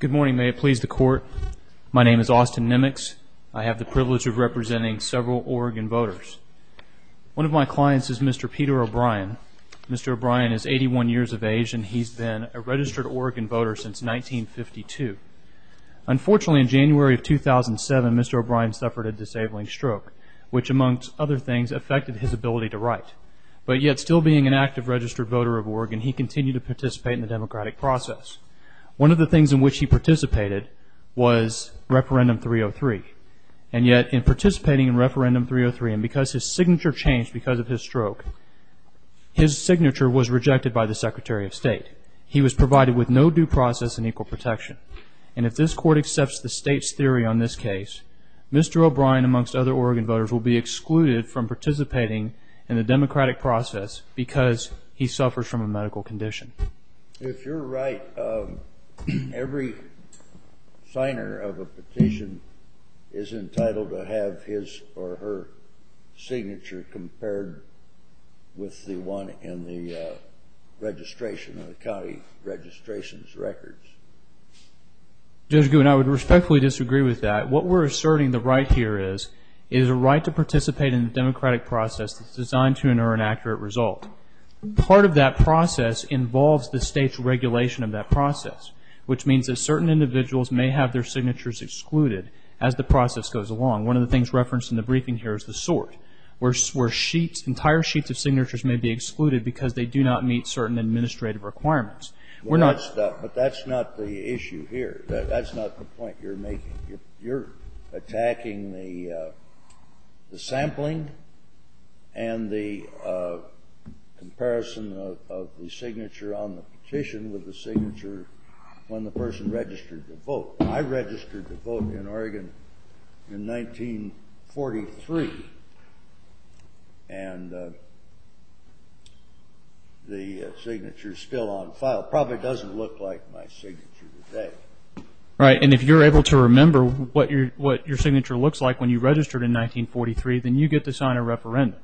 Good morning, may it please the Court. My name is Austin Nemix. I have the privilege of representing several Oregon voters. One of my clients is Mr. Peter O'Brien. Mr. O'Brien is 81 years of age and he's been a registered Oregon voter since 1952. Unfortunately, in January of 2007, Mr. O'Brien suffered a disabling stroke, which, amongst other things, affected his ability to write. But yet, still being an active registered voter of Oregon, he continued to participate in the democratic process. One of the things in which he participated was referendum 303. And yet, in participating in referendum 303, and because his signature changed because of his stroke, his signature was rejected by the Secretary of State. He was provided with no due process and equal protection. And if this Court accepts the State's theory on this case, Mr. O'Brien, amongst other Oregon voters, will be excluded from participating in the democratic process because he suffers from a medical condition. If you're right, every signer of a petition is entitled to have his or her signature compared with the one in the registration of the county registrations records. Judge Gould, I would respectfully disagree with that. What we're asserting the right here is, it is a right to participate in the democratic process that's designed to enter an accurate result. Part of that process involves the State's regulation of that process, which means that certain individuals may have their signatures excluded as the process goes along. One of the things referenced in the briefing here is the sort, where sheets, entire sheets of signatures may be excluded because they do not meet certain administrative requirements. We're not stuck. But that's not the issue here. That's not the point you're making. You're attacking the sampling and the comparison of the signature on the petition with the signature when the person registered to vote. I registered to vote in Oregon in 1943, and the signature's still on file. Probably doesn't look like my signature today. Right, and if you're able to remember what your signature looks like when you registered in 1943, then you get to sign a referendum.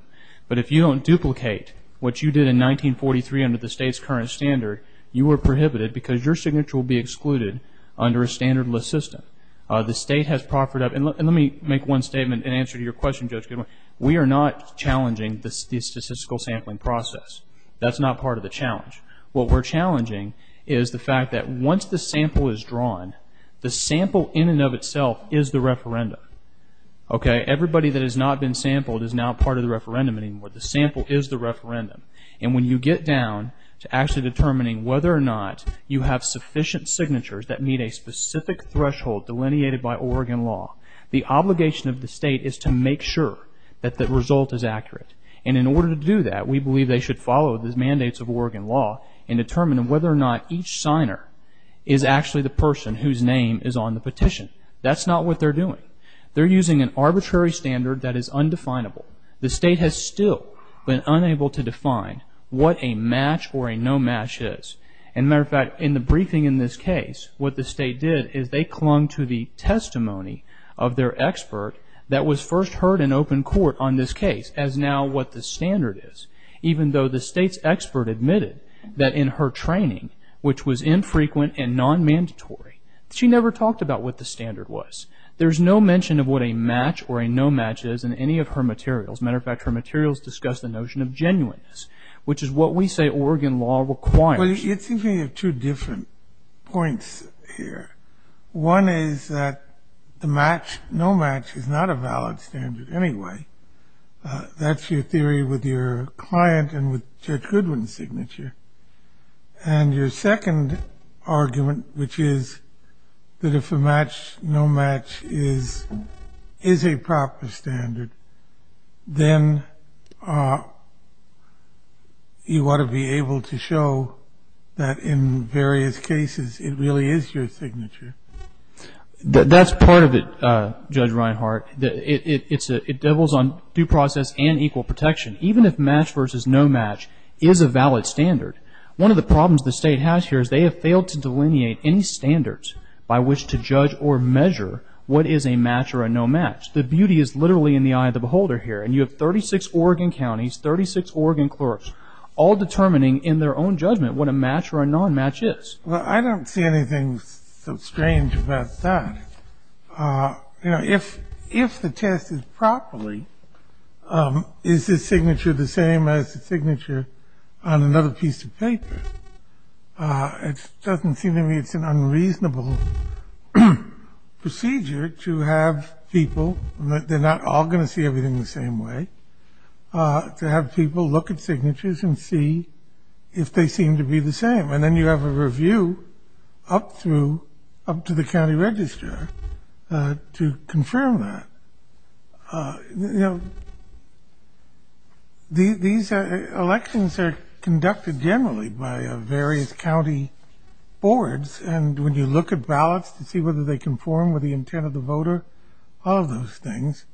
But if you don't duplicate what you did in 1943 under the State's current standard, you are prohibited because your signature will be excluded under a standard list system. The State has proffered up, and let me make one statement in answer to your question, Judge Gould. We are not challenging the statistical sampling process. That's not part of the challenge. What we're challenging is the fact that once the sample is drawn, the sample in and of itself is the referendum. Okay, everybody that has not been sampled is now part of the referendum anymore. The sample is the referendum. And when you get down to actually determining whether or not you have sufficient signatures that meet a specific threshold delineated by Oregon law, the obligation of the State is to make sure that the result is accurate. And in order to do that, we believe they should follow the mandates of Oregon law and determine whether or not each signer is actually the person whose name is on the petition. That's not what they're doing. They're using an arbitrary standard that is undefinable. The State has still been unable to define what a match or a no match is. As a matter of fact, in the briefing in this case, what their expert that was first heard in open court on this case as now what the standard is, even though the State's expert admitted that in her training, which was infrequent and non-mandatory, she never talked about what the standard was. There's no mention of what a match or a no match is in any of her materials. As a matter of fact, her materials discuss the notion of genuineness, which is what we say Oregon law requires. Well, it seems to me you have two different points here. One is that the match, no match, is not a valid standard anyway. That's your theory with your client and with Judge Goodwin's signature. And your second argument, which is that if a match, no match is a proper standard, then you ought to be able to show that in various cases it really is your signature. That's part of it, Judge Reinhart. It doubles on due process and equal protection. Even if match versus no match is a valid standard, one of the problems the State has here is they have failed to delineate any standards by which to judge or measure what is a match or a no match. The beauty is literally in the eye of the beholder here. And you have 36 Oregon counties, 36 Oregon clerks, all determining in their own judgment what a match or a non-match is. Well, I don't see anything so strange about that. You know, if the test is properly, is this signature the same as the signature on another piece of paper? It doesn't seem to me it's an unreasonable procedure to have people, they're not all going to see everything the same way, to have people look at signatures and see if they seem to be the same. And then you have a review up through, up to the county register to confirm that. These elections are conducted generally by various county boards, and when you look at ballots to see whether they conform with the intent of the voter, all of those things,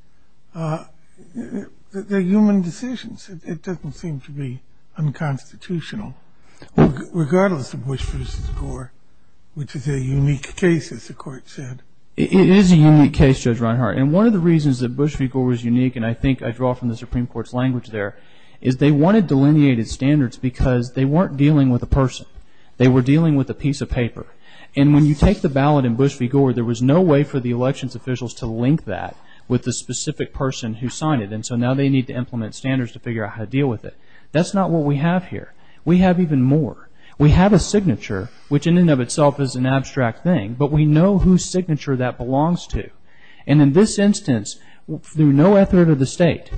they're human decisions. It doesn't seem to be unconstitutional, regardless of Bush versus Gore, which is a unique case, as the Court said. It is a unique case, Judge Reinhart, and one of the reasons that Bush v. Gore is unique, and I think I draw from the Supreme Court's language there, is they wanted delineated standards because they weren't dealing with a person. They were dealing with a piece of paper. And when you take the ballot in Bush v. Gore, there was no way for the elections officials to link that with the specific person who signed it, and so now they need to implement standards to figure out how to deal with it. That's not what we have here. We have even more. We have a signature, which in and of itself is an abstract thing, but we know whose signature that belongs to. And in this instance, through no effort of the State,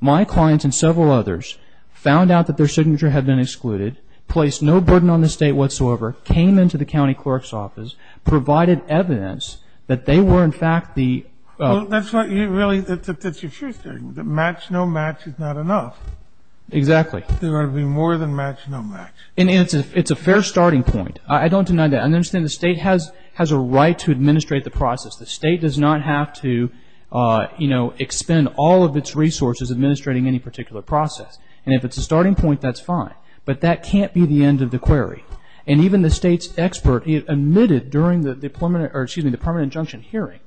my clients and several others found out that their signature had been excluded, placed no burden on the State whatsoever, came into the county clerk's office, provided evidence that they were, in fact, the ---- Well, that's what you really ---- that's your true statement, that match-no-match is not enough. Exactly. There ought to be more than match-no-match. It's a fair starting point. I don't deny that. I understand the State has a right to administrate the process. The State does not have to expend all of its resources administrating any particular process. And if it's a starting point, that's fine, but that can't be the end of the query. And even the State's expert admitted during the permanent injunction hearing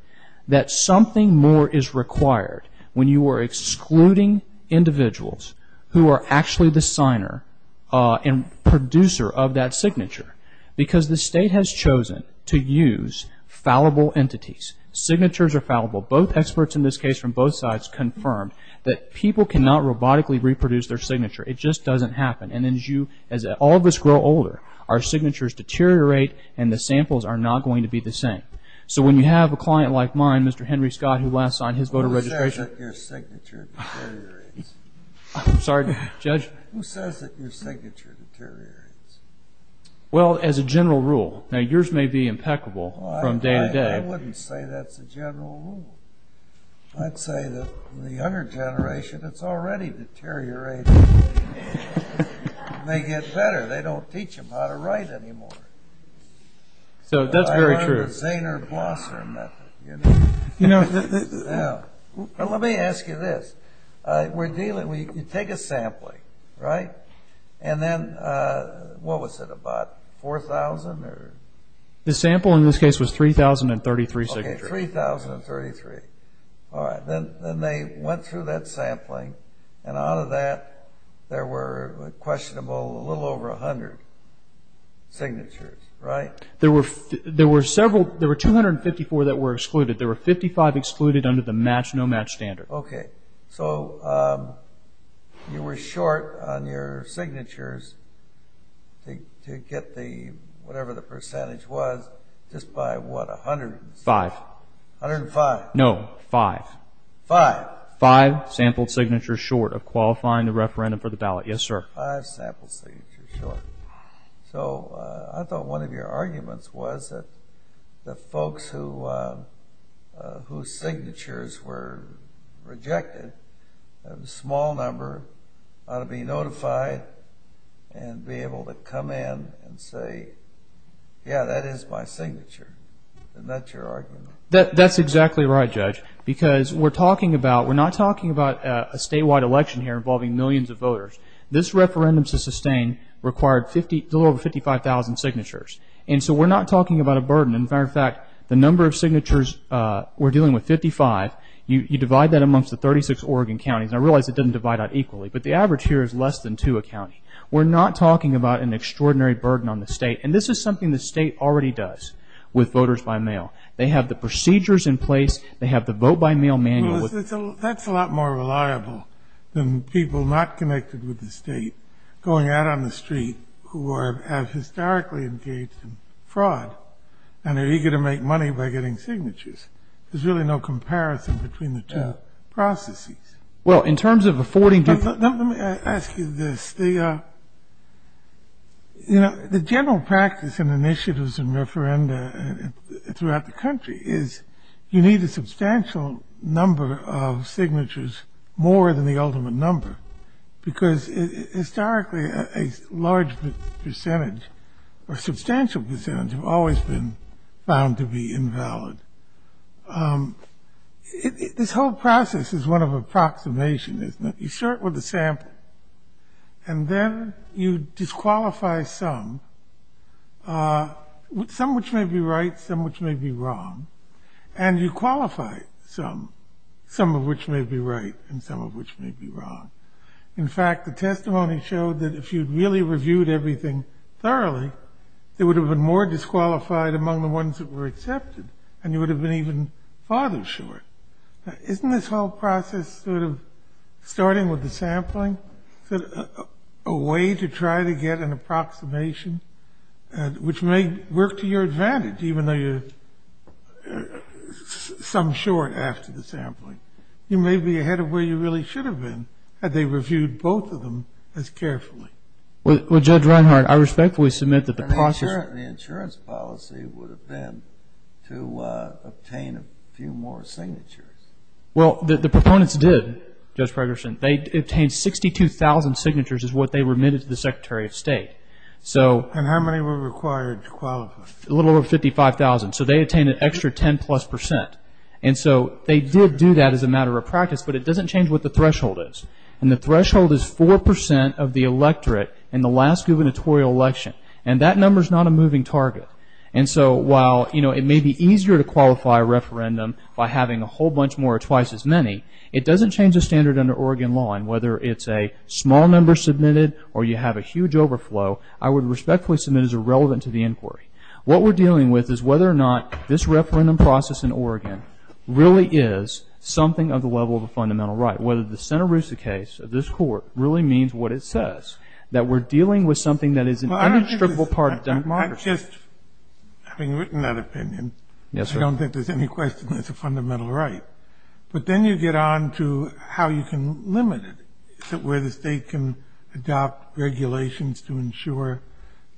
that something more is required when you are excluding individuals who are actually the signer and producer of that signature, because the State has chosen to use fallible entities. Signatures are fallible. Both experts in this case from both sides confirmed that people cannot robotically reproduce their signature. It just doesn't happen. And as all of us grow older, our signatures deteriorate and the samples are not going to be the same. So when you have a client like mine, Mr. Henry Scott, who last signed his voter registration ---- Who says that your signature deteriorates? I'm sorry, Judge? Who says that your signature deteriorates? Well, as a general rule. Now, yours may be impeccable from day to day. I wouldn't say that's a general rule. I'd say that the younger generation, it's already deteriorating. They get better. They don't teach them how to write anymore. So that's very true. That's the Zaner-Blosser method. Let me ask you this. You take a sampling, right? And then what was it, about 4,000? The sample in this case was 3,033 signatures. Okay, 3,033. All right. Then they went through that sampling and out of that there were questionable a little over 100 signatures, right? There were 254 that were excluded. There were 55 excluded under the match-no-match standard. Okay. So you were short on your signatures to get whatever the percentage was just by what, 100? Five. 105? No, five. Five? Five sampled signatures short of qualifying the referendum for the ballot. Yes, sir. Five sampled signatures short. So I thought one of your arguments was that the folks whose signatures were rejected, a small number ought to be notified and be able to come in and say, yeah, that is my signature. Isn't that your argument? That's exactly right, Judge, because we're not talking about a statewide election here involving millions of voters. This referendum to sustain required a little over 55,000 signatures. And so we're not talking about a burden. In fact, the number of signatures we're dealing with, 55, you divide that amongst the 36 Oregon counties. I realize it doesn't divide out equally, but the average here is less than two a county. We're not talking about an extraordinary burden on the state. And this is something the state already does with voters by mail. They have the procedures in place. They have the vote-by-mail manual. That's a lot more reliable than people not connected with the state going out on the street who have historically engaged in fraud and are eager to make money by getting signatures. There's really no comparison between the two processes. Well, in terms of affording different Let me ask you this. You know, the general practice in initiatives and referenda throughout the country is you need a substantial number of signatures, more than the ultimate number, because historically a large percentage or substantial percentage have always been found to be invalid. This whole process is one of approximation, isn't it? You start with a sample, and then you disqualify some, some which may be right, some which may be wrong, and you qualify some, some of which may be right and some of which may be wrong. In fact, the testimony showed that if you'd really reviewed everything thoroughly, there would have been more disqualified among the ones that were accepted, and you would have been even farther short. Isn't this whole process sort of starting with the sampling, a way to try to get an approximation, which may work to your advantage, even though you're some short after the sampling? You may be ahead of where you really should have been had they reviewed both of them as carefully. Well, Judge Reinhart, I respectfully submit that the process and the insurance policy would have been to obtain a few more signatures. Well, the proponents did, Judge Ferguson. They obtained 62,000 signatures is what they remitted to the Secretary of State. And how many were required to qualify? A little over 55,000. So they obtained an extra 10 plus percent. And so they did do that as a matter of practice, but it doesn't change what the threshold is. And the threshold is 4 percent of the electorate in the last gubernatorial election. And that number is not a moving target. And so while it may be easier to qualify a referendum by having a whole bunch more or twice as many, it doesn't change the standard under Oregon law. And whether it's a small number submitted or you have a huge overflow, I would respectfully submit it is irrelevant to the inquiry. What we're dealing with is whether or not this referendum process in Oregon really is something of the level of a fundamental right, whether the Santa Rosa case of this court really means what it says, that we're dealing with something that is an indestructible part of democracy. I just, having written that opinion, I don't think there's any question it's a fundamental right. But then you get on to how you can limit it. Is it where the state can adopt regulations to ensure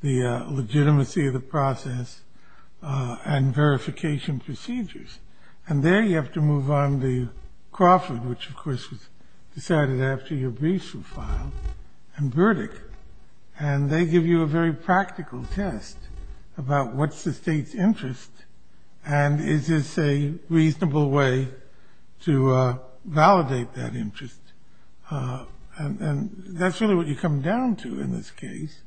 the legitimacy of the process and verification procedures? And there you have to move on the Crawford, which of course was decided after your briefs were filed, and Burdick. And they give you a very practical test about what's the state's interest, and is this a reasonable way to validate that interest. And that's really what you come down to in this case.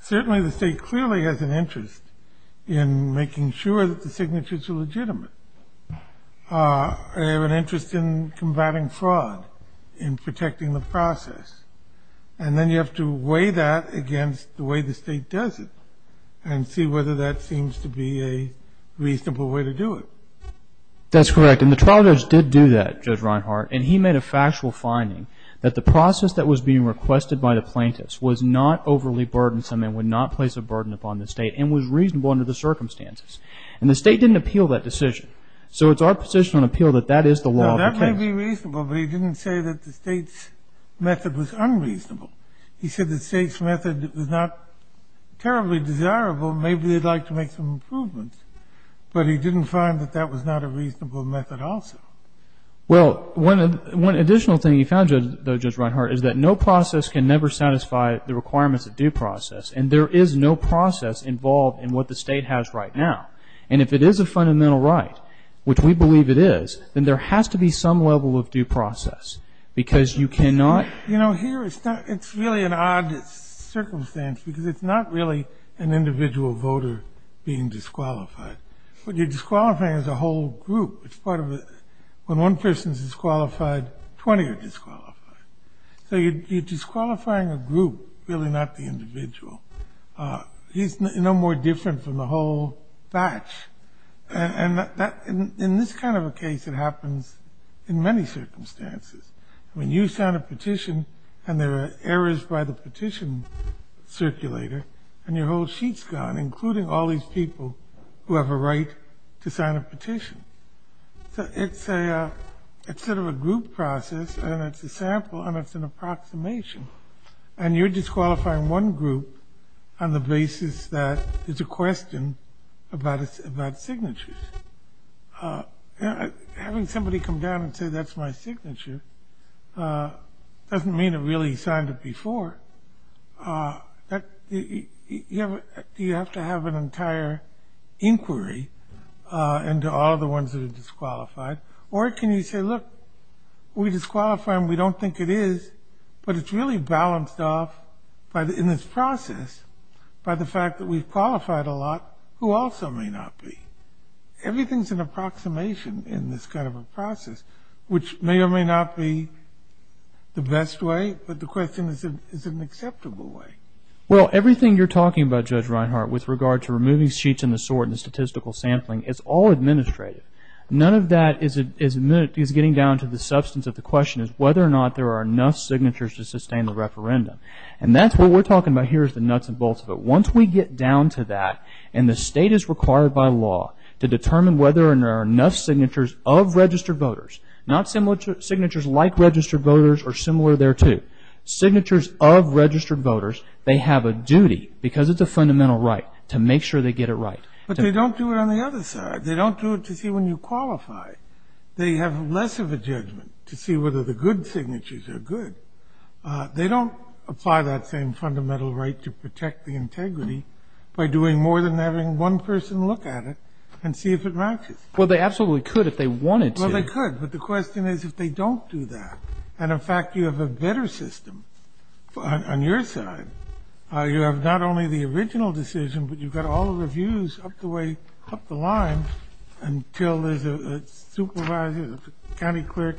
Certainly the state clearly has an interest in making sure that the signatures are legitimate. They have an interest in combating fraud, in protecting the process. And then you have to weigh that against the way the state does it and see whether that seems to be a reasonable way to do it. That's correct. And the trial judge did do that, Judge Reinhart, and he made a factual finding that the process that was being requested by the plaintiffs was not overly burdensome and would not place a burden upon the state, and was reasonable under the circumstances. And the state didn't appeal that decision. So it's our position on appeal that that is the law of the case. Now, that may be reasonable, but he didn't say that the state's method was unreasonable. He said the state's method was not terribly desirable. Maybe they'd like to make some improvements. But he didn't find that that was not a reasonable method also. Well, one additional thing he found, though, Judge Reinhart, is that no process can never satisfy the requirements of due process. And there is no process involved in what the state has right now. And if it is a fundamental right, which we believe it is, then there has to be some level of due process, because you cannot You know, here it's really an odd circumstance, because it's not really an individual voter being disqualified. What you're disqualifying is a whole group. It's part of a process. When one person's disqualified, 20 are disqualified. So you're disqualifying a group, really not the individual. He's no more different from the whole batch. And in this kind of a case, it happens in many circumstances. I mean, you sign a petition, and there are errors by the petition circulator, and your whole sheet's gone, including all these people who have a right to sign a petition. So it's sort of a group process, and it's a sample, and it's an approximation. And you're disqualifying one group on the basis that there's a question about signatures. Having somebody come down and say, that's my signature, doesn't mean it really signed it before. You have to have an entire inquiry into all the ones that are disqualified. Or can you say, look, we disqualify them. We don't think it is, but it's really balanced off in this process by the fact that we've qualified a lot who also may not be. Everything's an approximation in this kind of a process, which may or may not be the best way, but the question is, is it an acceptable way? Well, everything you're talking about, Judge Reinhart, with regard to removing sheets and the sort and the statistical sampling, it's all administrative. None of that is getting down to the substance of the question, is whether or not there are enough signatures to sustain the referendum. And that's what we're talking about here is the nuts and bolts of it. Once we get down to that, and the State is required by law to determine whether or not there are enough signatures of registered voters, not signatures like registered voters or similar thereto, signatures of registered voters, they have a duty, because it's a fundamental right, to make sure they get it right. But they don't do it on the other side. They don't do it to see when you qualify. They have less of a judgment to see whether the good signatures are good. They don't apply that same fundamental right to protect the integrity by doing more than having one person look at it and see if it matches. Well, they absolutely could if they wanted to. Well, they could, but the question is if they don't do that. And, in fact, you have a better system on your side. You have not only the original decision, but you've got all the reviews up the way, up the line, until there's a supervisor, a county clerk.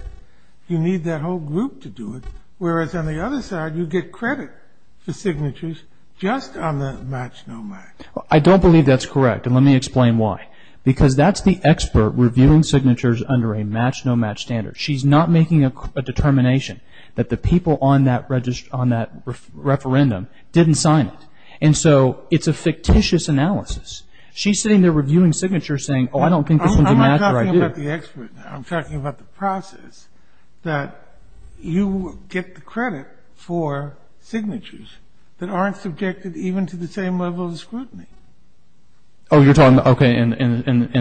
You need that whole group to do it, whereas, on the other side, you get credit for signatures just on the match-no-match. I don't believe that's correct, and let me explain why. Because that's the expert reviewing signatures under a match-no-match standard. She's not making a determination that the people on that referendum didn't sign it. And so it's a fictitious analysis. She's sitting there reviewing signatures saying, oh, I don't think this one's a match, or I do. I'm talking about the expert now. I'm talking about the process that you get the credit for signatures that aren't subjected even to the same level of scrutiny. Oh, you're talking, okay, in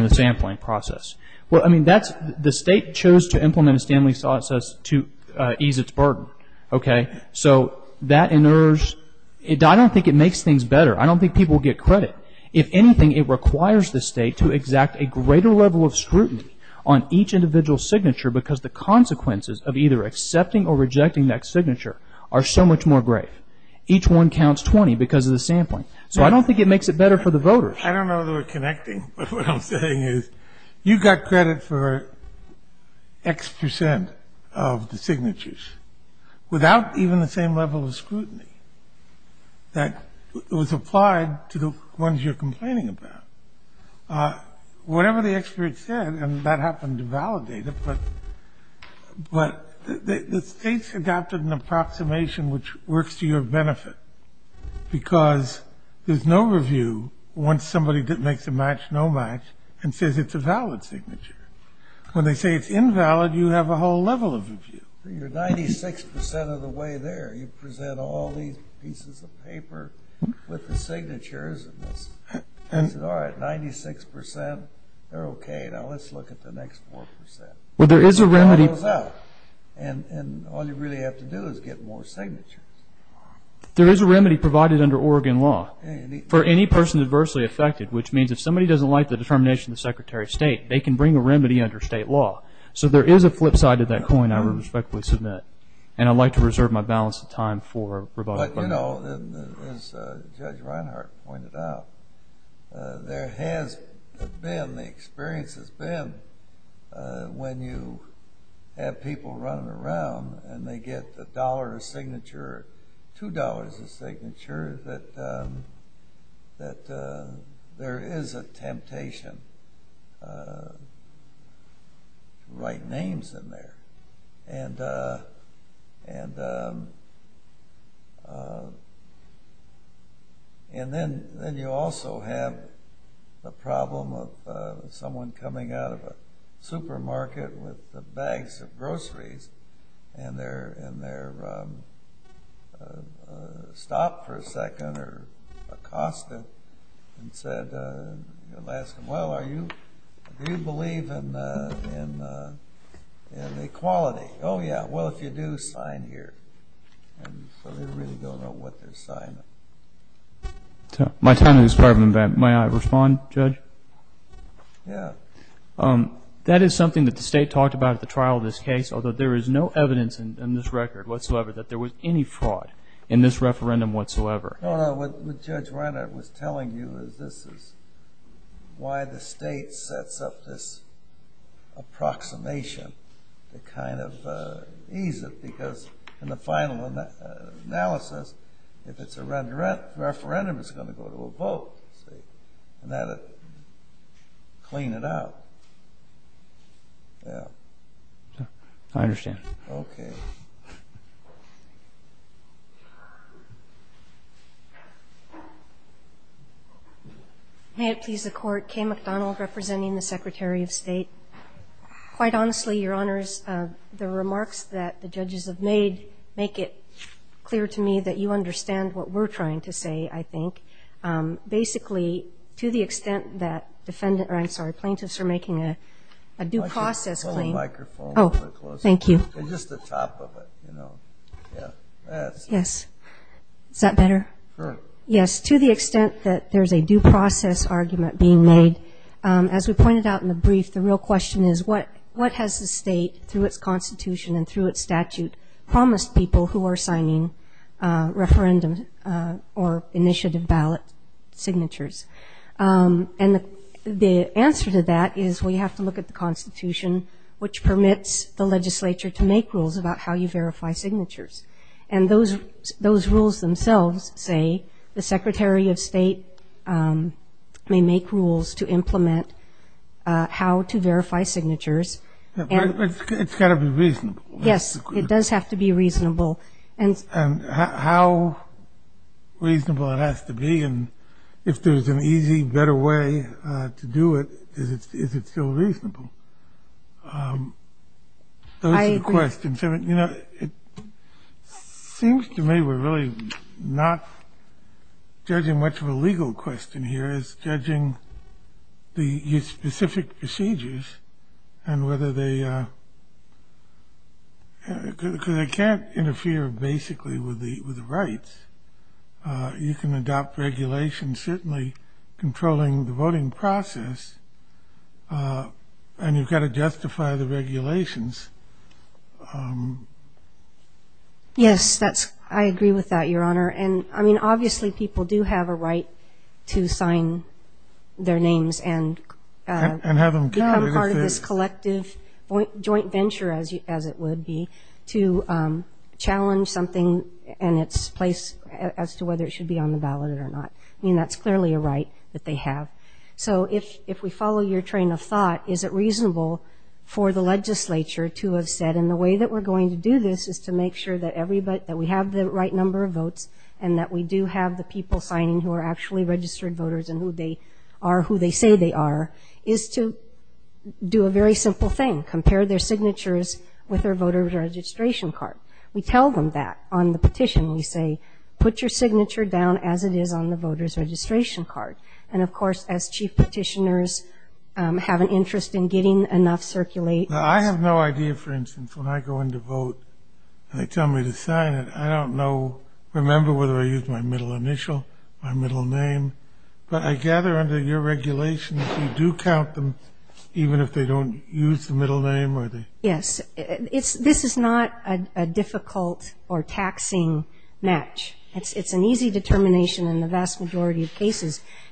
the sampling process. Well, I mean, that's the State chose to implement a Stanley process to ease its burden, okay? So that inerrs. I don't think it makes things better. I don't think people get credit. If anything, it requires the State to exact a greater level of scrutiny on each individual signature because the consequences of either accepting or rejecting that signature are so much more grave. Each one counts 20 because of the sampling. So I don't think it makes it better for the voters. I don't know that we're connecting, but what I'm saying is you got credit for X percent of the signatures without even the same level of scrutiny that was applied to the ones you're complaining about. Whatever the expert said, and that happened to validate it, but the States adopted an approximation which works to your benefit because there's no review once somebody makes a match, no match, and says it's a valid signature. When they say it's invalid, you have a whole level of review. You're 96 percent of the way there. You present all these pieces of paper with the signatures and say, all right, 96 percent. They're okay. Now let's look at the next 4 percent. It all goes out, and all you really have to do is get more signatures. There is a remedy provided under Oregon law for any person adversely affected, which means if somebody doesn't like the determination of the Secretary of State, they can bring a remedy under State law. So there is a flip side to that coin I would respectfully submit, and I'd like to reserve my balance of time for rebuttal. But, you know, as Judge Reinhart pointed out, there has been, the experience has been when you have people running around and they get a dollar a signature, two dollars a signature, that there is a temptation to write names in there. And then you also have the problem of someone coming out of a supermarket with bags of groceries and they're stopped for a second or accosted and said, well, do you believe in equality? Oh, yeah. Well, if you do, sign here. And so they really don't know what they're signing. My time has expired. May I respond, Judge? Yeah. That is something that the State talked about at the trial of this case, although there is no evidence in this record whatsoever that there was any fraud in this referendum whatsoever. No, no. What Judge Reinhart was telling you is this is why the State sets up this approximation to kind of ease it, because in the final analysis, if it's a referendum, it's going to go to a vote. And that would clean it up. Yeah. I understand. Okay. May it please the Court, Kay McDonald representing the Secretary of State. Quite honestly, Your Honors, the remarks that the judges have made make it clear to me that you understand what we're trying to say, I think. Basically, to the extent that plaintiffs are making a due process claim. Put the microphone a little closer. Oh, thank you. Just the top of it, you know. Yes. Is that better? Sure. Yes. To the extent that there's a due process argument being made, as we pointed out in the brief, the real question is, what has the State, through its Constitution and through its statute, promised people who are signing referendum or initiative ballot signatures? And the answer to that is, well, you have to look at the Constitution, which permits the legislature to make rules about how you verify signatures. And those rules themselves say the Secretary of State may make rules to implement how to verify signatures. It's got to be reasonable. Yes, it does have to be reasonable. And how reasonable it has to be, and if there's an easy, better way to do it, is it still reasonable? Those are the questions. You know, it seems to me we're really not judging much of a legal question here. It's judging the specific procedures and whether they can't interfere, basically, with the rights. You can adopt regulations, certainly, controlling the voting process, and you've got to justify the regulations. Yes, I agree with that, Your Honor. And, I mean, obviously people do have a right to sign their names and become part of this collective joint venture, as it would be, to challenge something and its place as to whether it should be on the ballot or not. I mean, that's clearly a right that they have. So if we follow your train of thought, is it reasonable for the legislature to have said, and the way that we're going to do this is to make sure that we have the right number of votes and that we do have the people signing who are actually registered voters and who they are, who they say they are, is to do a very simple thing, compare their signatures with their voter's registration card. We tell them that on the petition. We say, put your signature down as it is on the voter's registration card. And, of course, as chief petitioners have an interest in getting enough circulate. I have no idea, for instance, when I go in to vote and they tell me to sign it, I don't know, remember whether I used my middle initial, my middle name. But I gather under your regulation that you do count them even if they don't use the middle name. Yes. This is not a difficult or taxing match. And,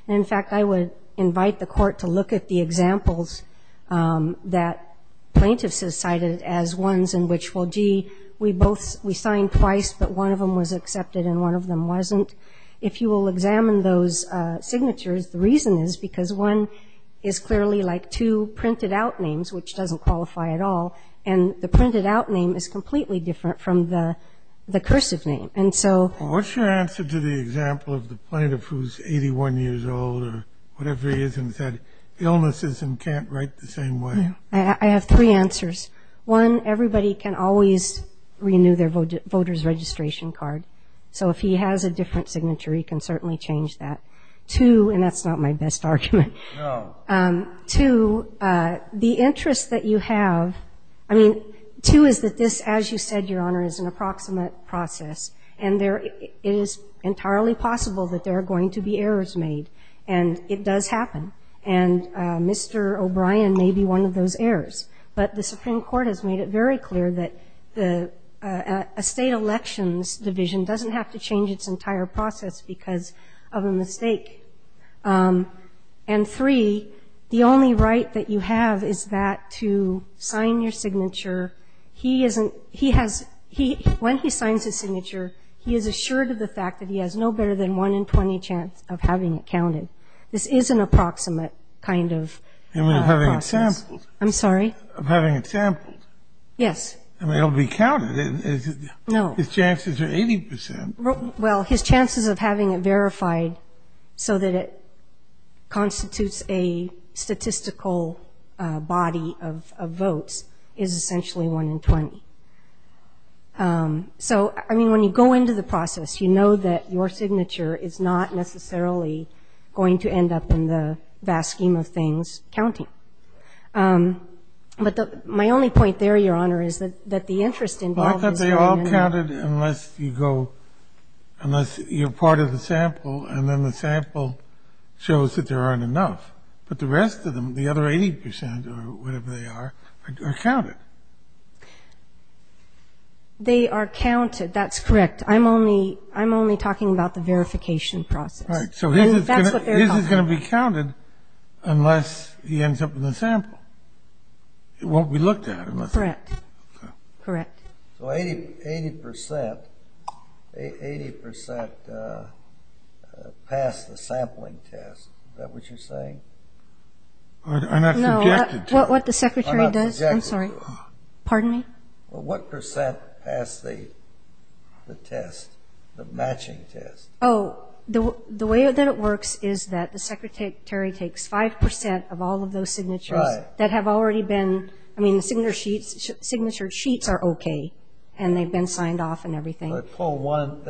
in fact, I would invite the Court to look at the examples that plaintiffs have cited as ones in which, well, gee, we both we signed twice, but one of them was accepted and one of them wasn't. If you will examine those signatures, the reason is because one is clearly like two printed out names, which doesn't qualify at all, and the printed out name is completely different from the cursive name. What's your answer to the example of the plaintiff who's 81 years old or whatever he is and has had illnesses and can't write the same way? I have three answers. One, everybody can always renew their voter's registration card. So if he has a different signature, he can certainly change that. Two, and that's not my best argument. No. Two, the interest that you have, I mean, two is that this, as you said, Your Honor, is an approximate process, and it is entirely possible that there are going to be errors made. And it does happen. And Mr. O'Brien may be one of those errors. But the Supreme Court has made it very clear that a state elections division doesn't have to change its entire process because of a mistake. And three, the only right that you have is that to sign your signature. When he signs his signature, he is assured of the fact that he has no better than one in 20 chance of having it counted. This is an approximate kind of process. I mean, of having it sampled. I'm sorry? Of having it sampled. Yes. I mean, it will be counted. No. His chances are 80%. Well, his chances of having it verified so that it constitutes a statistical body of votes is essentially one in 20. So, I mean, when you go into the process, you know that your signature is not necessarily going to end up in the vast scheme of things counting. But my only point there, Your Honor, is that the interest involved is very many. Well, I thought they all counted unless you go unless you're part of the sample and then the sample shows that there aren't enough. But the rest of them, the other 80% or whatever they are, are counted. They are counted. That's correct. I'm only talking about the verification process. All right. So his is going to be counted unless he ends up in the sample. It won't be looked at. Correct. Okay. Correct. So 80% passed the sampling test. Is that what you're saying? I'm not suggested to. What the Secretary does? I'm sorry. Pardon me? Well, what percent passed the test, the matching test? Oh, the way that it works is that the Secretary takes 5% of all of those signatures that have already been ñ I mean, the signature sheets are okay and they've been signed off and everything. They pull one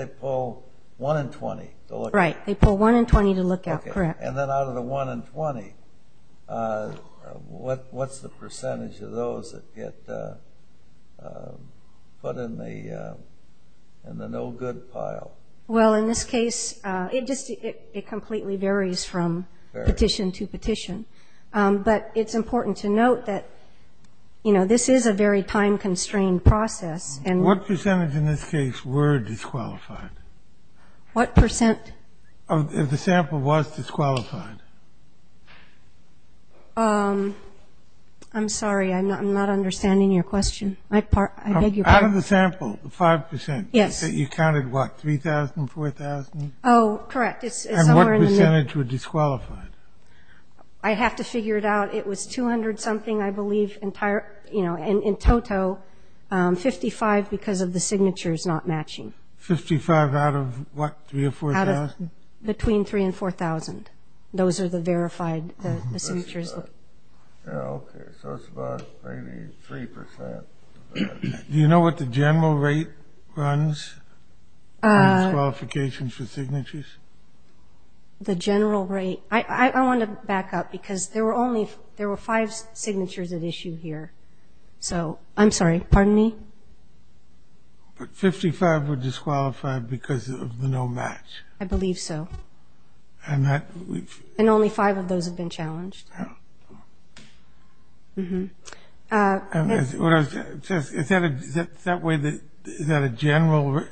in 20 to look at. Right. They pull one in 20 to look at. Correct. Okay. And then out of the one in 20, what's the percentage of those that get put in the no-good pile? Well, in this case, it completely varies from petition to petition. But it's important to note that, you know, this is a very time-constrained process. What percentage in this case were disqualified? What percent? If the sample was disqualified. I'm sorry. I'm not understanding your question. I beg your pardon. Out of the sample, the 5%. Yes. You counted, what, 3,000, 4,000? Oh, correct. And what percentage were disqualified? I have to figure it out. It was 200-something, I believe, in total, 55 because of the signatures not matching. Fifty-five out of, what, 3,000 or 4,000? Between 3,000 and 4,000. Those are the verified signatures. Okay. So it's about maybe 3%. Do you know what the general rate runs on disqualification for signatures? The general rate. I want to back up because there were five signatures at issue here. I'm sorry. Pardon me? But 55 were disqualified because of the no match. I believe so. And that we've ---- And only five of those have been challenged. Oh. Mm-hmm. Is that a general ----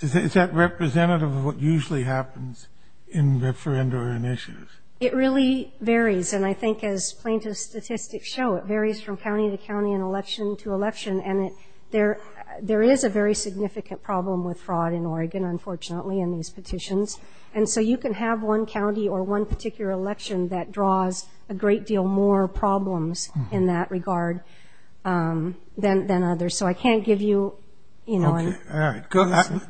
Is that representative of what usually happens in referendum initiatives? It really varies. And I think as plaintiffs' statistics show, it varies from county to county and election to election. And there is a very significant problem with fraud in Oregon, unfortunately, in these petitions. And so you can have one county or one particular election that draws a great deal more problems in that regard than others. So I can't give you, you know ---- All right. Go ahead.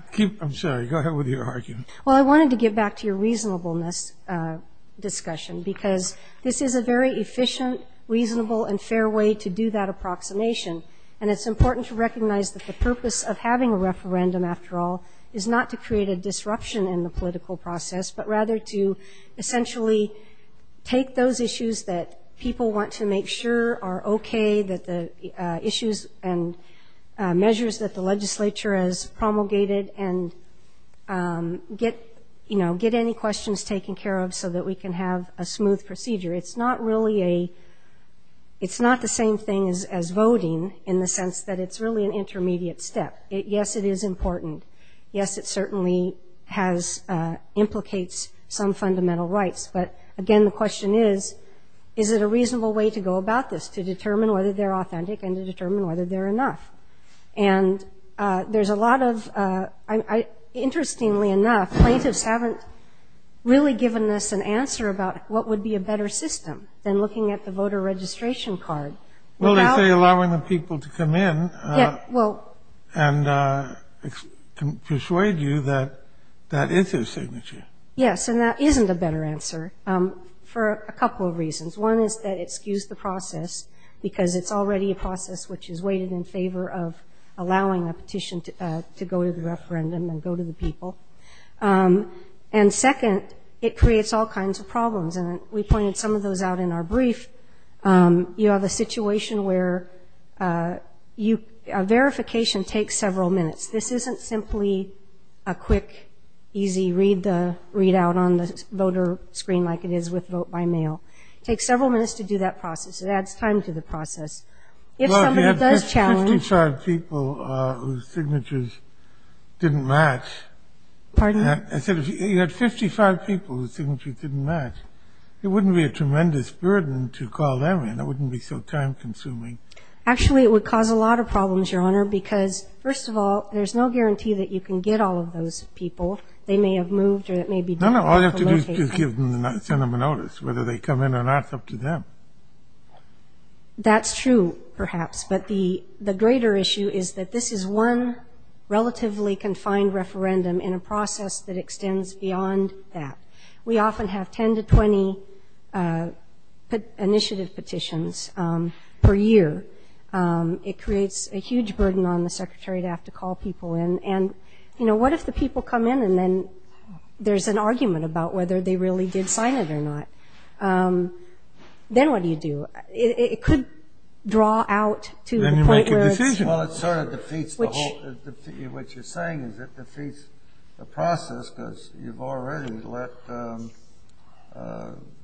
I'm sorry. Go ahead with your argument. Well, I wanted to get back to your reasonableness discussion because this is a very efficient, reasonable, and fair way to do that approximation. And it's important to recognize that the purpose of having a referendum, after all, is not to create a disruption in the political process, but rather to essentially take those issues that people want to make sure are okay, that the issues and measures that the legislature has promulgated, and get, you know, get any questions taken care of so that we can have a smooth procedure. It's not really a ---- It's not the same thing as voting in the sense that it's really an intermediate step. Yes, it is important. Yes, it certainly has ---- implicates some fundamental rights. But, again, the question is, is it a reasonable way to go about this, to determine whether they're authentic and to determine whether they're enough? And there's a lot of ---- Well, they say allowing the people to come in and persuade you that that is their signature. Yes, and that isn't a better answer for a couple of reasons. One is that it skews the process because it's already a process which is weighted in favor of allowing a petition to go to the referendum and go to the people. And, second, it creates all kinds of problems. And we pointed some of those out in our brief. You have a situation where you ---- verification takes several minutes. This isn't simply a quick, easy read-out on the voter screen like it is with vote by mail. It takes several minutes to do that process. It adds time to the process. If somebody does challenge ---- Well, you had 55 people whose signatures didn't match. Pardon? I said if you had 55 people whose signatures didn't match, it wouldn't be a tremendous burden to call them in. It wouldn't be so time-consuming. Actually, it would cause a lot of problems, Your Honor, because, first of all, there's no guarantee that you can get all of those people. They may have moved or it may be difficult to locate them. No, no. All you have to do is send them a notice whether they come in or not. It's up to them. That's true, perhaps. But the greater issue is that this is one relatively confined referendum in a process that extends beyond that. We often have 10 to 20 initiative petitions per year. It creates a huge burden on the secretary to have to call people in. And, you know, what if the people come in and then there's an argument about whether they really did sign it or not? Then what do you do? It could draw out to the point where it's- Then you make a decision. Well, it sort of defeats the whole- Which- What you're saying is it defeats the process because you've already let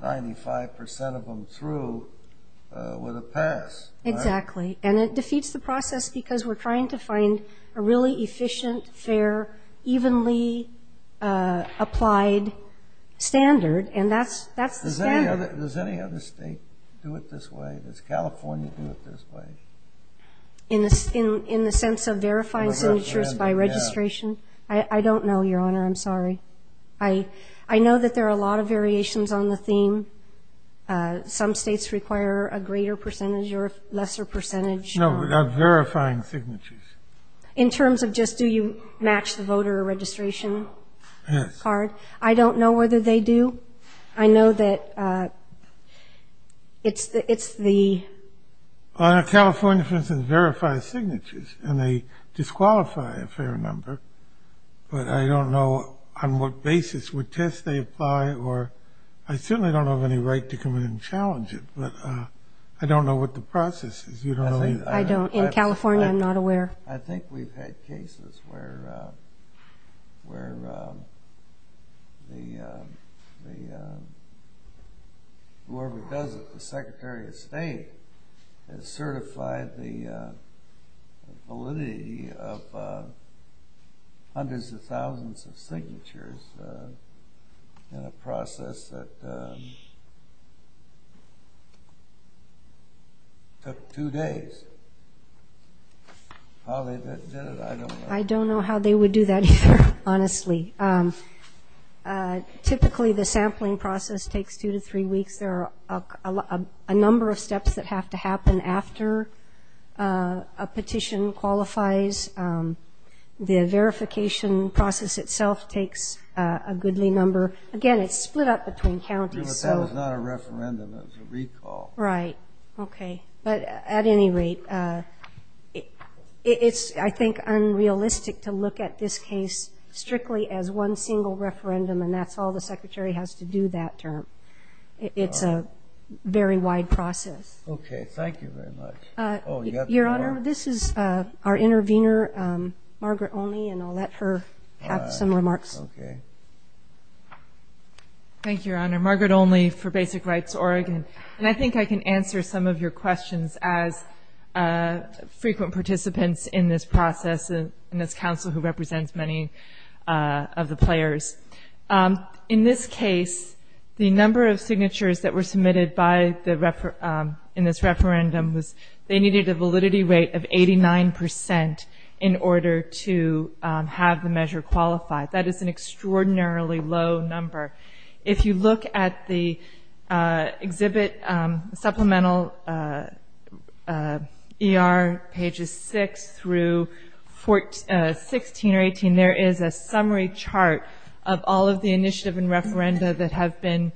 95% of them through with a pass. Exactly. And it defeats the process because we're trying to find a really efficient, fair, evenly applied standard, and that's the standard. Does any other state do it this way? Does California do it this way? In the sense of verifying signatures by registration? Yeah. I don't know, Your Honor. I'm sorry. I know that there are a lot of variations on the theme. Some states require a greater percentage or a lesser percentage. No, without verifying signatures. In terms of just do you match the voter registration card? Yes. I don't know whether they do. I know that it's the- California, for instance, verifies signatures, and they disqualify a fair number, but I don't know on what basis. Would tests they apply or- I certainly don't have any right to come in and challenge it, but I don't know what the process is. You don't know- I don't. In California, I'm not aware. I think we've had cases where the- whoever does it, the Secretary of State, has certified the validity of hundreds of thousands of signatures in a process that took two days. How they did it, I don't know. I don't know how they would do that either, honestly. Typically, the sampling process takes two to three weeks. There are a number of steps that have to happen after a petition qualifies. The verification process itself takes a goodly number. Again, it's split up between counties. But that was not a referendum. It was a recall. Right. Okay. But at any rate, it's, I think, unrealistic to look at this case strictly as one single referendum, and that's all the Secretary has to do that term. It's a very wide process. Okay. Thank you very much. Your Honor, this is our intervener, Margaret Olney, and I'll let her have some remarks. Thank you, Your Honor. Margaret Olney for Basic Rights Oregon. And I think I can answer some of your questions as frequent participants in this process and this council who represents many of the players. In this case, the number of signatures that were submitted in this referendum was they needed a validity rate of 89% in order to have the measure qualify. That is an extraordinarily low number. If you look at the exhibit supplemental ER pages 6 through 16 or 18, there is a summary chart of all of the initiative and referenda that have been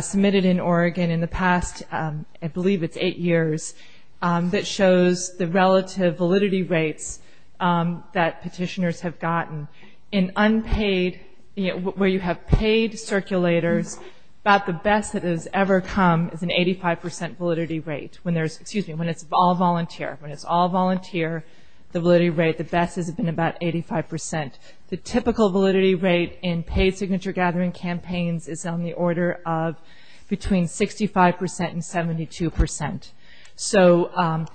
submitted in Oregon in the past, I believe it's eight years, that shows the relative validity rates that petitioners have gotten. In unpaid, where you have paid circulators, about the best that has ever come is an 85% validity rate. When there's, excuse me, when it's all volunteer. When it's all volunteer, the validity rate, the best has been about 85%. The typical validity rate in paid signature gathering campaigns is on the order of between 65% and 72%. So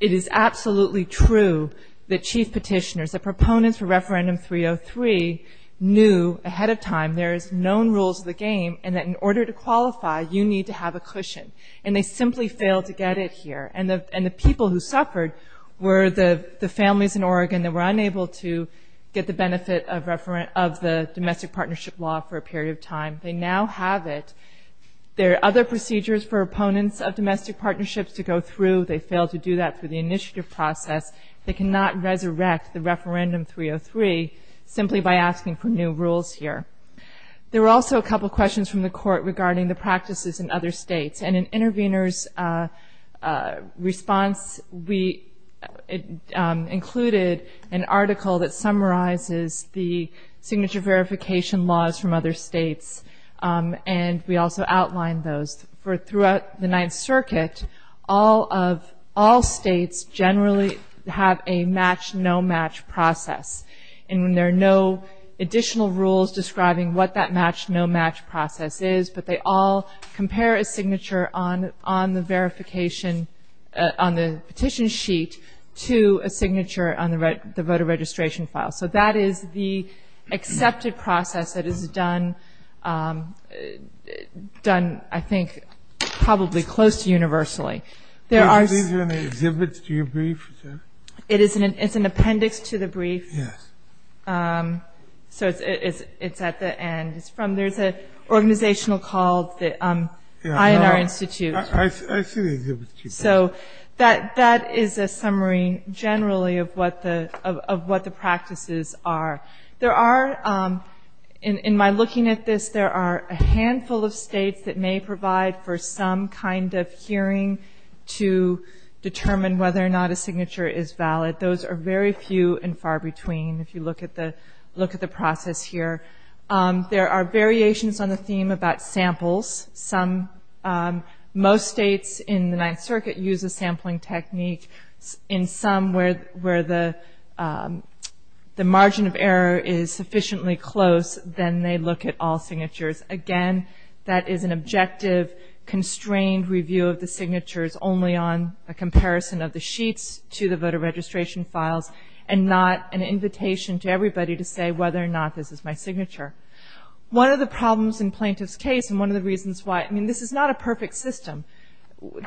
it is absolutely true that chief petitioners, that proponents for Referendum 303 knew ahead of time there is known rules of the game and that in order to qualify, you need to have a cushion. And they simply failed to get it here. And the people who suffered were the families in Oregon that were unable to get the benefit of the domestic partnership law for a period of time. They now have it. There are other procedures for opponents of domestic partnerships to go through. They failed to do that through the initiative process. They cannot resurrect the Referendum 303 simply by asking for new rules here. There were also a couple of questions from the court regarding the practices in other states. And in Intervenors' response, we included an article that summarizes the signature verification laws from other states. And we also outlined those. For throughout the Ninth Circuit, all states generally have a match-no-match process. And there are no additional rules describing what that match-no-match process is, but they all compare a signature on the petition sheet to a signature on the voter registration file. So that is the accepted process that is done, I think, probably close to universally. There are- These are in the exhibits to your brief? It's an appendix to the brief. Yes. So it's at the end. There's an organizational call, the INR Institute. I see the exhibit. So that is a summary generally of what the practices are. There are, in my looking at this, there are a handful of states that may provide for some kind of hearing to determine whether or not a signature is valid. Those are very few and far between, if you look at the process here. There are variations on the theme about samples. Some-most states in the Ninth Circuit use a sampling technique. In some, where the margin of error is sufficiently close, then they look at all signatures. Again, that is an objective, constrained review of the signatures, only on a comparison of the sheets to the voter registration files, and not an invitation to everybody to say whether or not this is my signature. One of the problems in plaintiff's case, and one of the reasons why- I mean, this is not a perfect system.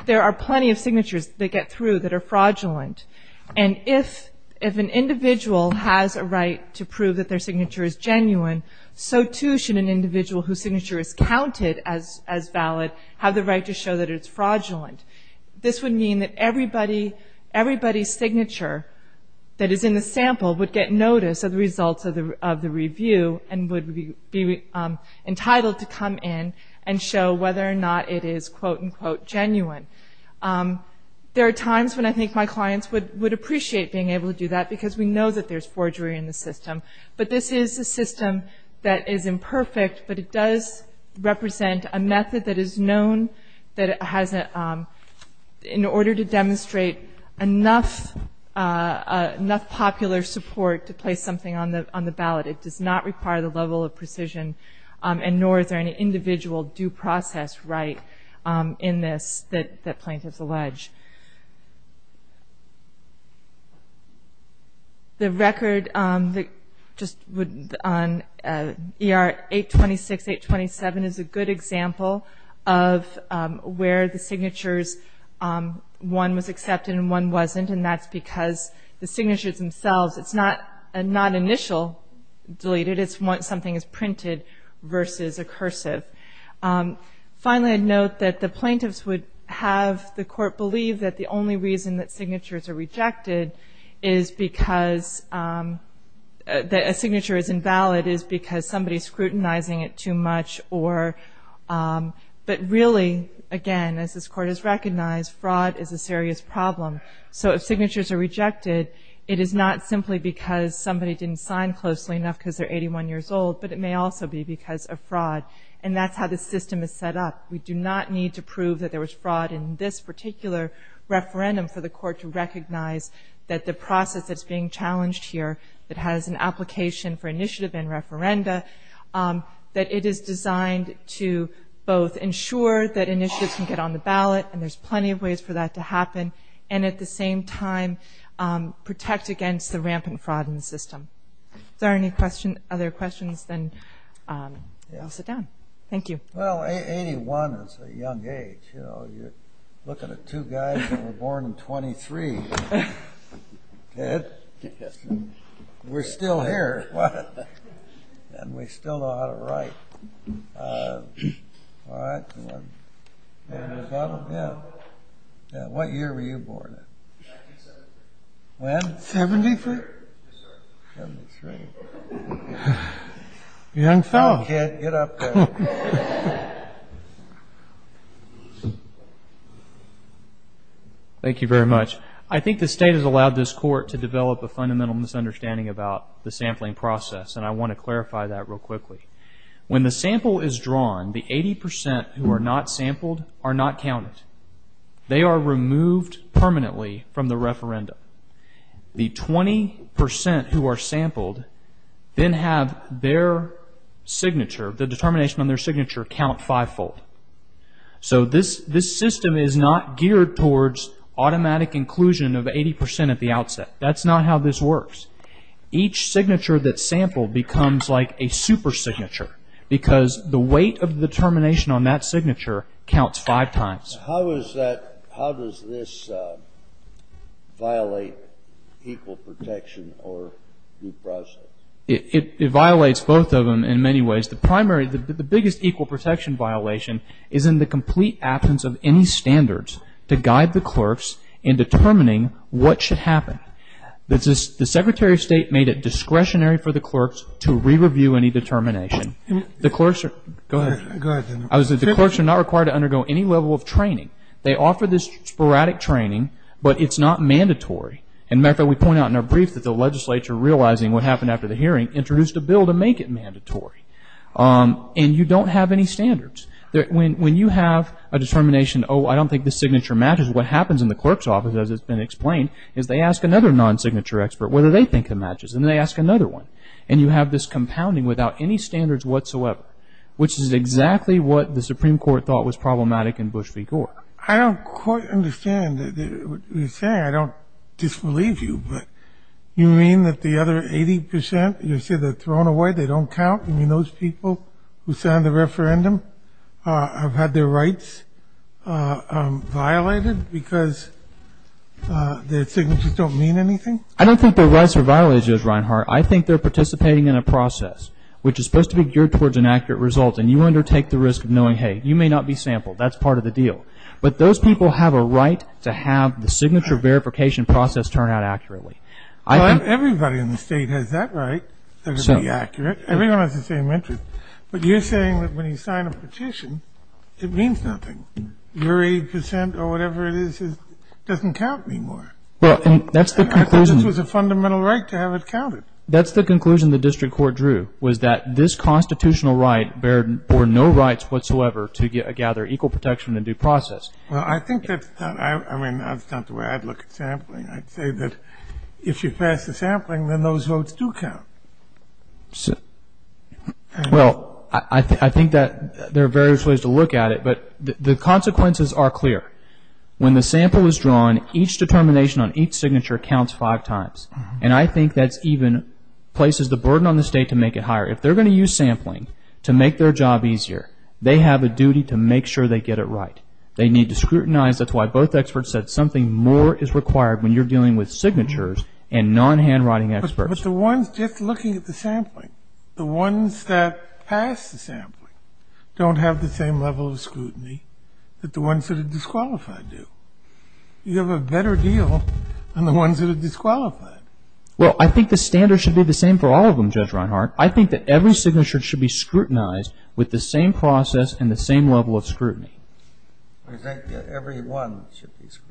There are plenty of signatures they get through that are fraudulent. And if an individual has a right to prove that their signature is genuine, so too should an individual whose signature is counted as valid have the right to show that it's fraudulent. This would mean that everybody's signature that is in the sample would get notice of the results of the review, and would be entitled to come in and show whether or not it is quote-unquote genuine. There are times when I think my clients would appreciate being able to do that, because we know that there's forgery in the system. But this is a system that is imperfect, but it does represent a method that is known that has- in order to demonstrate enough popular support to place something on the ballot, it does not require the level of precision, and nor is there any individual due process right in this that plaintiffs allege. The record on ER 826, 827 is a good example of where the signatures- one was accepted and one wasn't, and that's because the signatures themselves- it's not initial deleted, it's something that's printed versus a cursive. Finally, I'd note that the plaintiffs would have the court believe that the only reason that signatures are rejected is because- that a signature is invalid is because somebody's scrutinizing it too much or- but really, again, as this court has recognized, fraud is a serious problem. So if signatures are rejected, it is not simply because somebody didn't sign closely enough because they're 81 years old, but it may also be because of fraud. And that's how the system is set up. We do not need to prove that there was fraud in this particular referendum for the court to recognize that the process that's being challenged here that has an application for initiative and referenda, that it is designed to both ensure that initiatives can get on the ballot, and there's plenty of ways for that to happen, and at the same time protect against the rampant fraud in the system. Is there any other questions? Then I'll sit down. Thank you. Well, 81 is a young age, you know. You're looking at two guys that were born in 23. Ted? Yes. We're still here. And we still know how to write. All right. Yeah. What year were you born in? 1973. When? 73? Yes, sir. 73. Young fellow. Get up there. Thank you very much. I think the state has allowed this court to develop a fundamental misunderstanding about the sampling process, and I want to clarify that real quickly. When the sample is drawn, the 80% who are not sampled are not counted. They are removed permanently from the referendum. The 20% who are sampled then have their signature, the determination on their signature, count fivefold. So this system is not geared towards automatic inclusion of 80% at the outset. That's not how this works. Each signature that's sampled becomes like a super signature because the weight of the determination on that signature counts five times. How does this violate equal protection or due process? It violates both of them in many ways. The biggest equal protection violation is in the complete absence of any standards to guide the clerks in determining what should happen. The Secretary of State made it discretionary for the clerks to re-review any determination. Go ahead. The clerks are not required to undergo any level of training. They offer this sporadic training, but it's not mandatory. As a matter of fact, we point out in our brief that the legislature, realizing what happened after the hearing, introduced a bill to make it mandatory. And you don't have any standards. When you have a determination, oh, I don't think this signature matches, what happens in the clerk's office, as it's been explained, is they ask another non-signature expert whether they think it matches, and they ask another one. And you have this compounding without any standards whatsoever, which is exactly what the Supreme Court thought was problematic in Bush v. Gore. I don't quite understand what you're saying. I don't disbelieve you, but you mean that the other 80 percent, you said they're thrown away, they don't count, you mean those people who signed the referendum have had their rights violated because their signatures don't mean anything? I don't think their rights are violated, Judge Reinhart. I think they're participating in a process which is supposed to be geared towards an accurate result, and you undertake the risk of knowing, hey, you may not be sampled. That's part of the deal. But those people have a right to have the signature verification process turn out accurately. Everybody in the State has that right to be accurate. Everyone has the same interest. But you're saying that when you sign a petition, it means nothing. Your 80 percent or whatever it is doesn't count anymore. Well, that's the conclusion. This was a fundamental right to have it counted. That's the conclusion the district court drew, was that this constitutional right bore no rights whatsoever to gather equal protection in due process. Well, I think that's not the way I'd look at sampling. I'd say that if you pass the sampling, then those votes do count. Well, I think that there are various ways to look at it, but the consequences are clear. When the sample is drawn, each determination on each signature counts five times. And I think that even places the burden on the State to make it higher. If they're going to use sampling to make their job easier, they have a duty to make sure they get it right. They need to scrutinize. That's why both experts said something more is required when you're dealing with signatures and non-handwriting experts. But the ones just looking at the sampling, the ones that pass the sampling, don't have the same level of scrutiny that the ones that are disqualified do. You have a better deal than the ones that are disqualified. Well, I think the standards should be the same for all of them, Judge Reinhart. I think that every signature should be scrutinized with the same process and the same level of scrutiny. I think that every one should be scrutinized.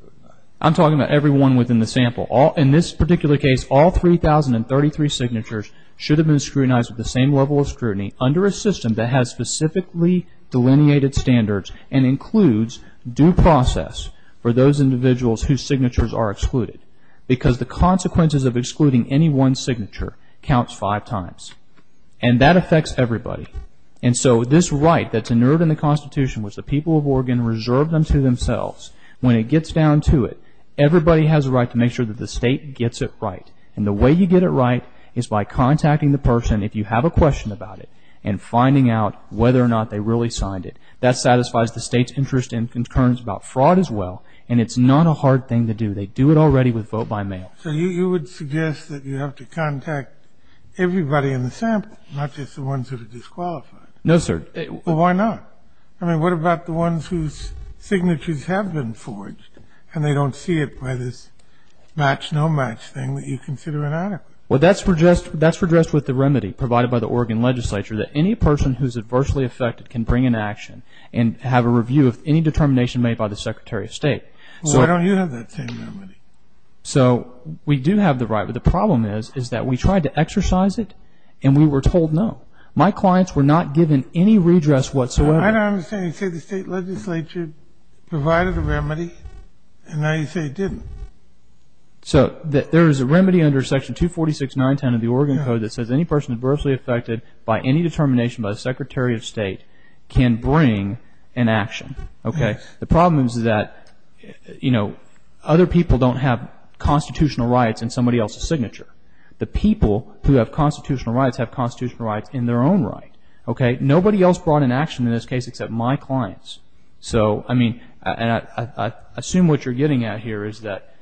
I'm talking about every one within the sample. In this particular case, all 3,033 signatures should have been scrutinized with the same level of scrutiny under a system that has specifically delineated standards and includes due process for those individuals whose signatures are excluded. Because the consequences of excluding any one signature counts five times. And that affects everybody. And so this right that's inert in the Constitution, which the people of Oregon reserve them to themselves, when it gets down to it, everybody has a right to make sure that the State gets it right. And the way you get it right is by contacting the person, if you have a question about it, and finding out whether or not they really signed it. That satisfies the State's interest and concerns about fraud as well. And it's not a hard thing to do. They do it already with vote by mail. So you would suggest that you have to contact everybody in the sample, not just the ones who are disqualified. No, sir. Well, why not? I mean, what about the ones whose signatures have been forged and they don't see it by this match-no-match thing that you consider inadequate? Well, that's redressed with the remedy provided by the Oregon legislature, that any person who is adversely affected can bring an action and have a review of any determination made by the Secretary of State. Well, why don't you have that same remedy? So we do have the right, but the problem is that we tried to exercise it and we were told no. My clients were not given any redress whatsoever. I don't understand. You say the State legislature provided a remedy, and now you say it didn't. So there is a remedy under Section 246.910 of the Oregon Code that says any person adversely affected by any determination by the Secretary of State can bring an action. The problem is that other people don't have constitutional rights in somebody else's signature. The people who have constitutional rights have constitutional rights in their own right. Okay? Nobody else brought an action in this case except my clients. So, I mean, and I assume what you're getting at here is that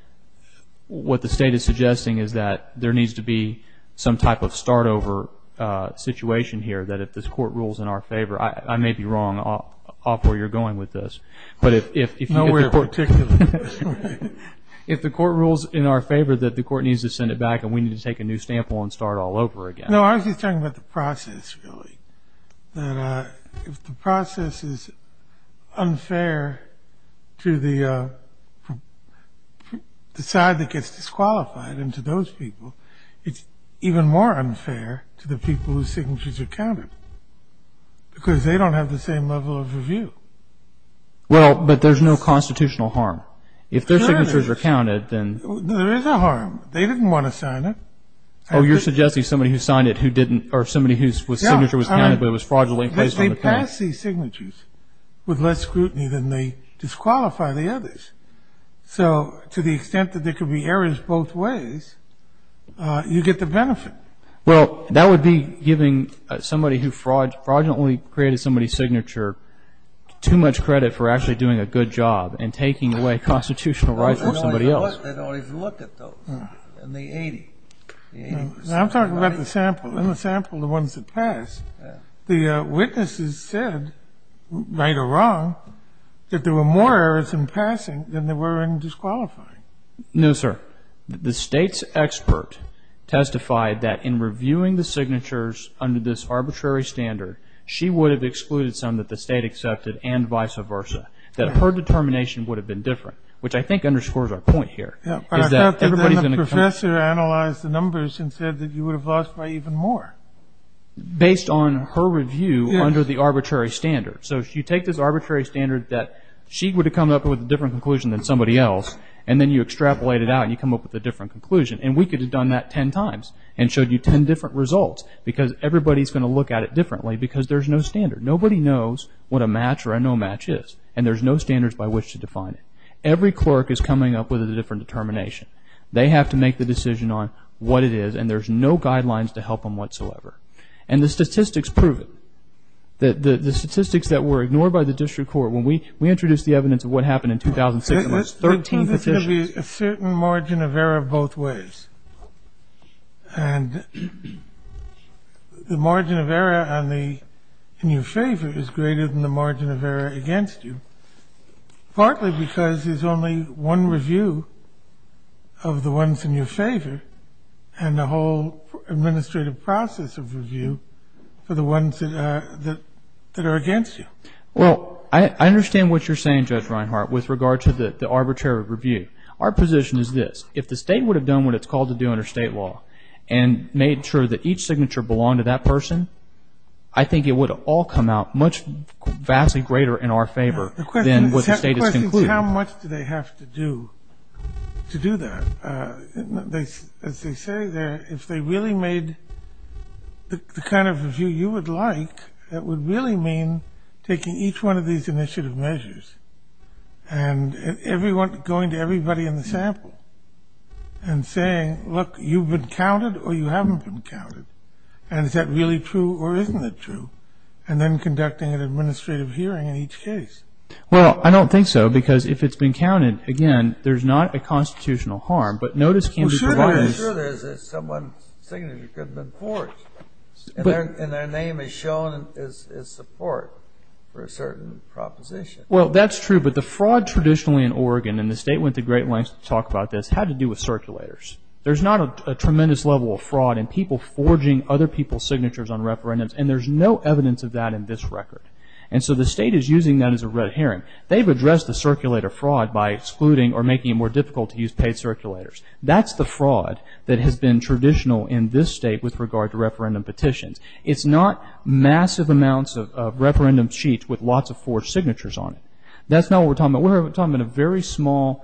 what the State is suggesting is that there needs to be some type of start-over situation here, that if this Court rules in our favor. I may be wrong off where you're going with this. But if the Court rules in our favor that the Court needs to send it back and we need to take a new sample and start all over again. No, I was just talking about the process, really. That if the process is unfair to the side that gets disqualified and to those people, it's even more unfair to the people whose signatures are counted because they don't have the same level of review. Well, but there's no constitutional harm. If their signatures are counted, then... There is a harm. They didn't want to sign it. Oh, you're suggesting somebody who signed it who didn't, or somebody whose signature was counted but it was fraudulently placed on the panel. They pass these signatures with less scrutiny than they disqualify the others. So to the extent that there could be errors both ways, you get the benefit. Well, that would be giving somebody who fraudulently created somebody's signature too much credit for actually doing a good job and taking away constitutional rights from somebody else. They don't even look at those in the 80. I'm talking about the sample. In the sample, the ones that pass, the witnesses said, right or wrong, that there were more errors in passing than there were in disqualifying. No, sir. The State's expert testified that in reviewing the signatures under this arbitrary standard, she would have excluded some that the State accepted and vice versa, that her determination would have been different, which I think underscores our point here. But I thought that the professor analyzed the numbers and said that you would have lost by even more. Based on her review under the arbitrary standard. So you take this arbitrary standard that she would have come up with a different conclusion than somebody else, and then you extrapolate it out and you come up with a different conclusion. And we could have done that ten times and showed you ten different results because everybody's going to look at it differently because there's no standard. Nobody knows what a match or a no match is, and there's no standards by which to define it. Every clerk is coming up with a different determination. They have to make the decision on what it is, and there's no guidelines to help them whatsoever. And the statistics prove it. The statistics that were ignored by the district court, when we introduced the evidence of what happened in 2006, there were 13 petitions. Kennedy. Let's say there's going to be a certain margin of error both ways. And the margin of error on the – in your favor is greater than the margin of error against you, partly because there's only one review of the ones in your favor and the whole administrative process of review for the ones that are against you. Well, I understand what you're saying, Judge Reinhart, with regard to the arbitrary review. Our position is this. If the State would have done what it's called to do under State law and made sure that each signature belonged to that person, I think it would have all come out much vastly greater in our favor than what the State has concluded. The question is how much do they have to do to do that? As they say there, if they really made the kind of review you would like, that would really mean taking each one of these initiative measures and going to everybody in the sample and saying, look, you've been counted or you haven't been counted. And is that really true or isn't it true? And then conducting an administrative hearing in each case. Well, I don't think so because if it's been counted, again, there's not a constitutional harm. But notice can be provided. Well, sure there is if someone's signature could have been forged and their name is shown as support for a certain proposition. Well, that's true. But the fraud traditionally in Oregon, and the State went to great lengths to talk about this, had to do with circulators. There's not a tremendous level of fraud in people forging other people's signatures on referendums and there's no evidence of that in this record. And so the State is using that as a red herring. They've addressed the circulator fraud by excluding or making it more difficult to use paid circulators. That's the fraud that has been traditional in this State with regard to referendum petitions. It's not massive amounts of referendum sheets with lots of forged signatures on it. That's not what we're talking about. We're talking about a very small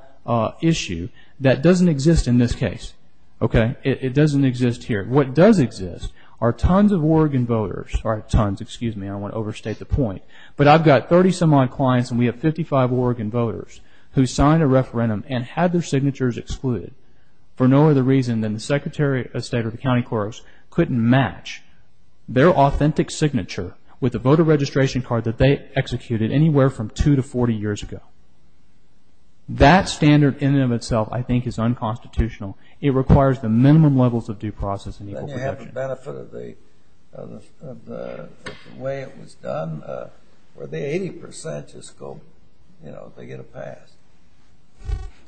issue that doesn't exist in this case. Okay? It doesn't exist here. What does exist are tons of Oregon voters. Sorry, tons. Excuse me. I don't want to overstate the point. But I've got 30-some-odd clients and we have 55 Oregon voters who signed a referendum and had their signatures excluded for no other reason than the Secretary of State or the county clerks couldn't match their authentic signature with a voter registration card that they executed anywhere from 2 to 40 years ago. That standard in and of itself I think is unconstitutional. It requires the minimum levels of due process and equal protection. Then you have the benefit of the way it was done where the 80 percent just go, you know, they get a pass.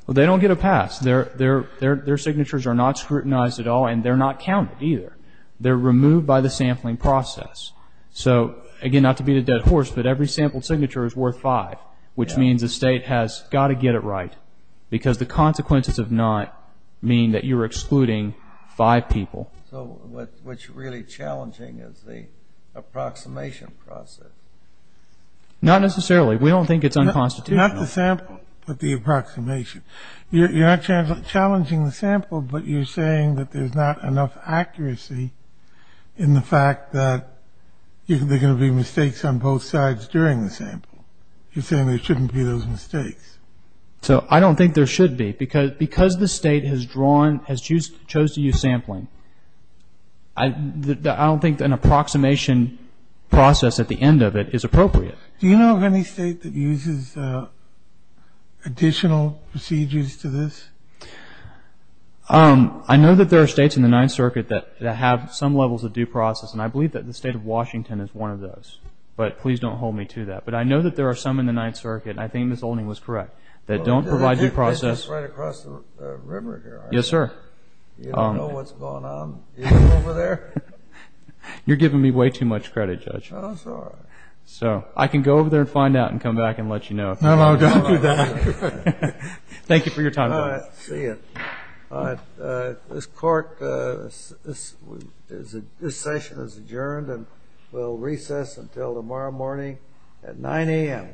Well, they don't get a pass. Their signatures are not scrutinized at all and they're not counted either. They're removed by the sampling process. So, again, not to beat a dead horse, but every sampled signature is worth five, which means the state has got to get it right because the consequences of not meaning that you're excluding five people. So what's really challenging is the approximation process. Not necessarily. We don't think it's unconstitutional. Not the sample, but the approximation. You're not challenging the sample, but you're saying that there's not enough accuracy in the fact that there are going to be mistakes on both sides during the sample. You're saying there shouldn't be those mistakes. So I don't think there should be because the state has chosen to use sampling. I don't think an approximation process at the end of it is appropriate. Do you know of any state that uses additional procedures to this? I know that there are states in the Ninth Circuit that have some levels of due process, and I believe that the state of Washington is one of those, but please don't hold me to that. But I know that there are some in the Ninth Circuit, and I think Ms. Olding was correct, that don't provide due process. It's just right across the river here, right? Yes, sir. You don't know what's going on even over there? You're giving me way too much credit, Judge. I'm sorry. So I can go over there and find out and come back and let you know. No, no, don't do that. Thank you for your time. See you. This Court, this session is adjourned and will recess until tomorrow morning at 9 a.m.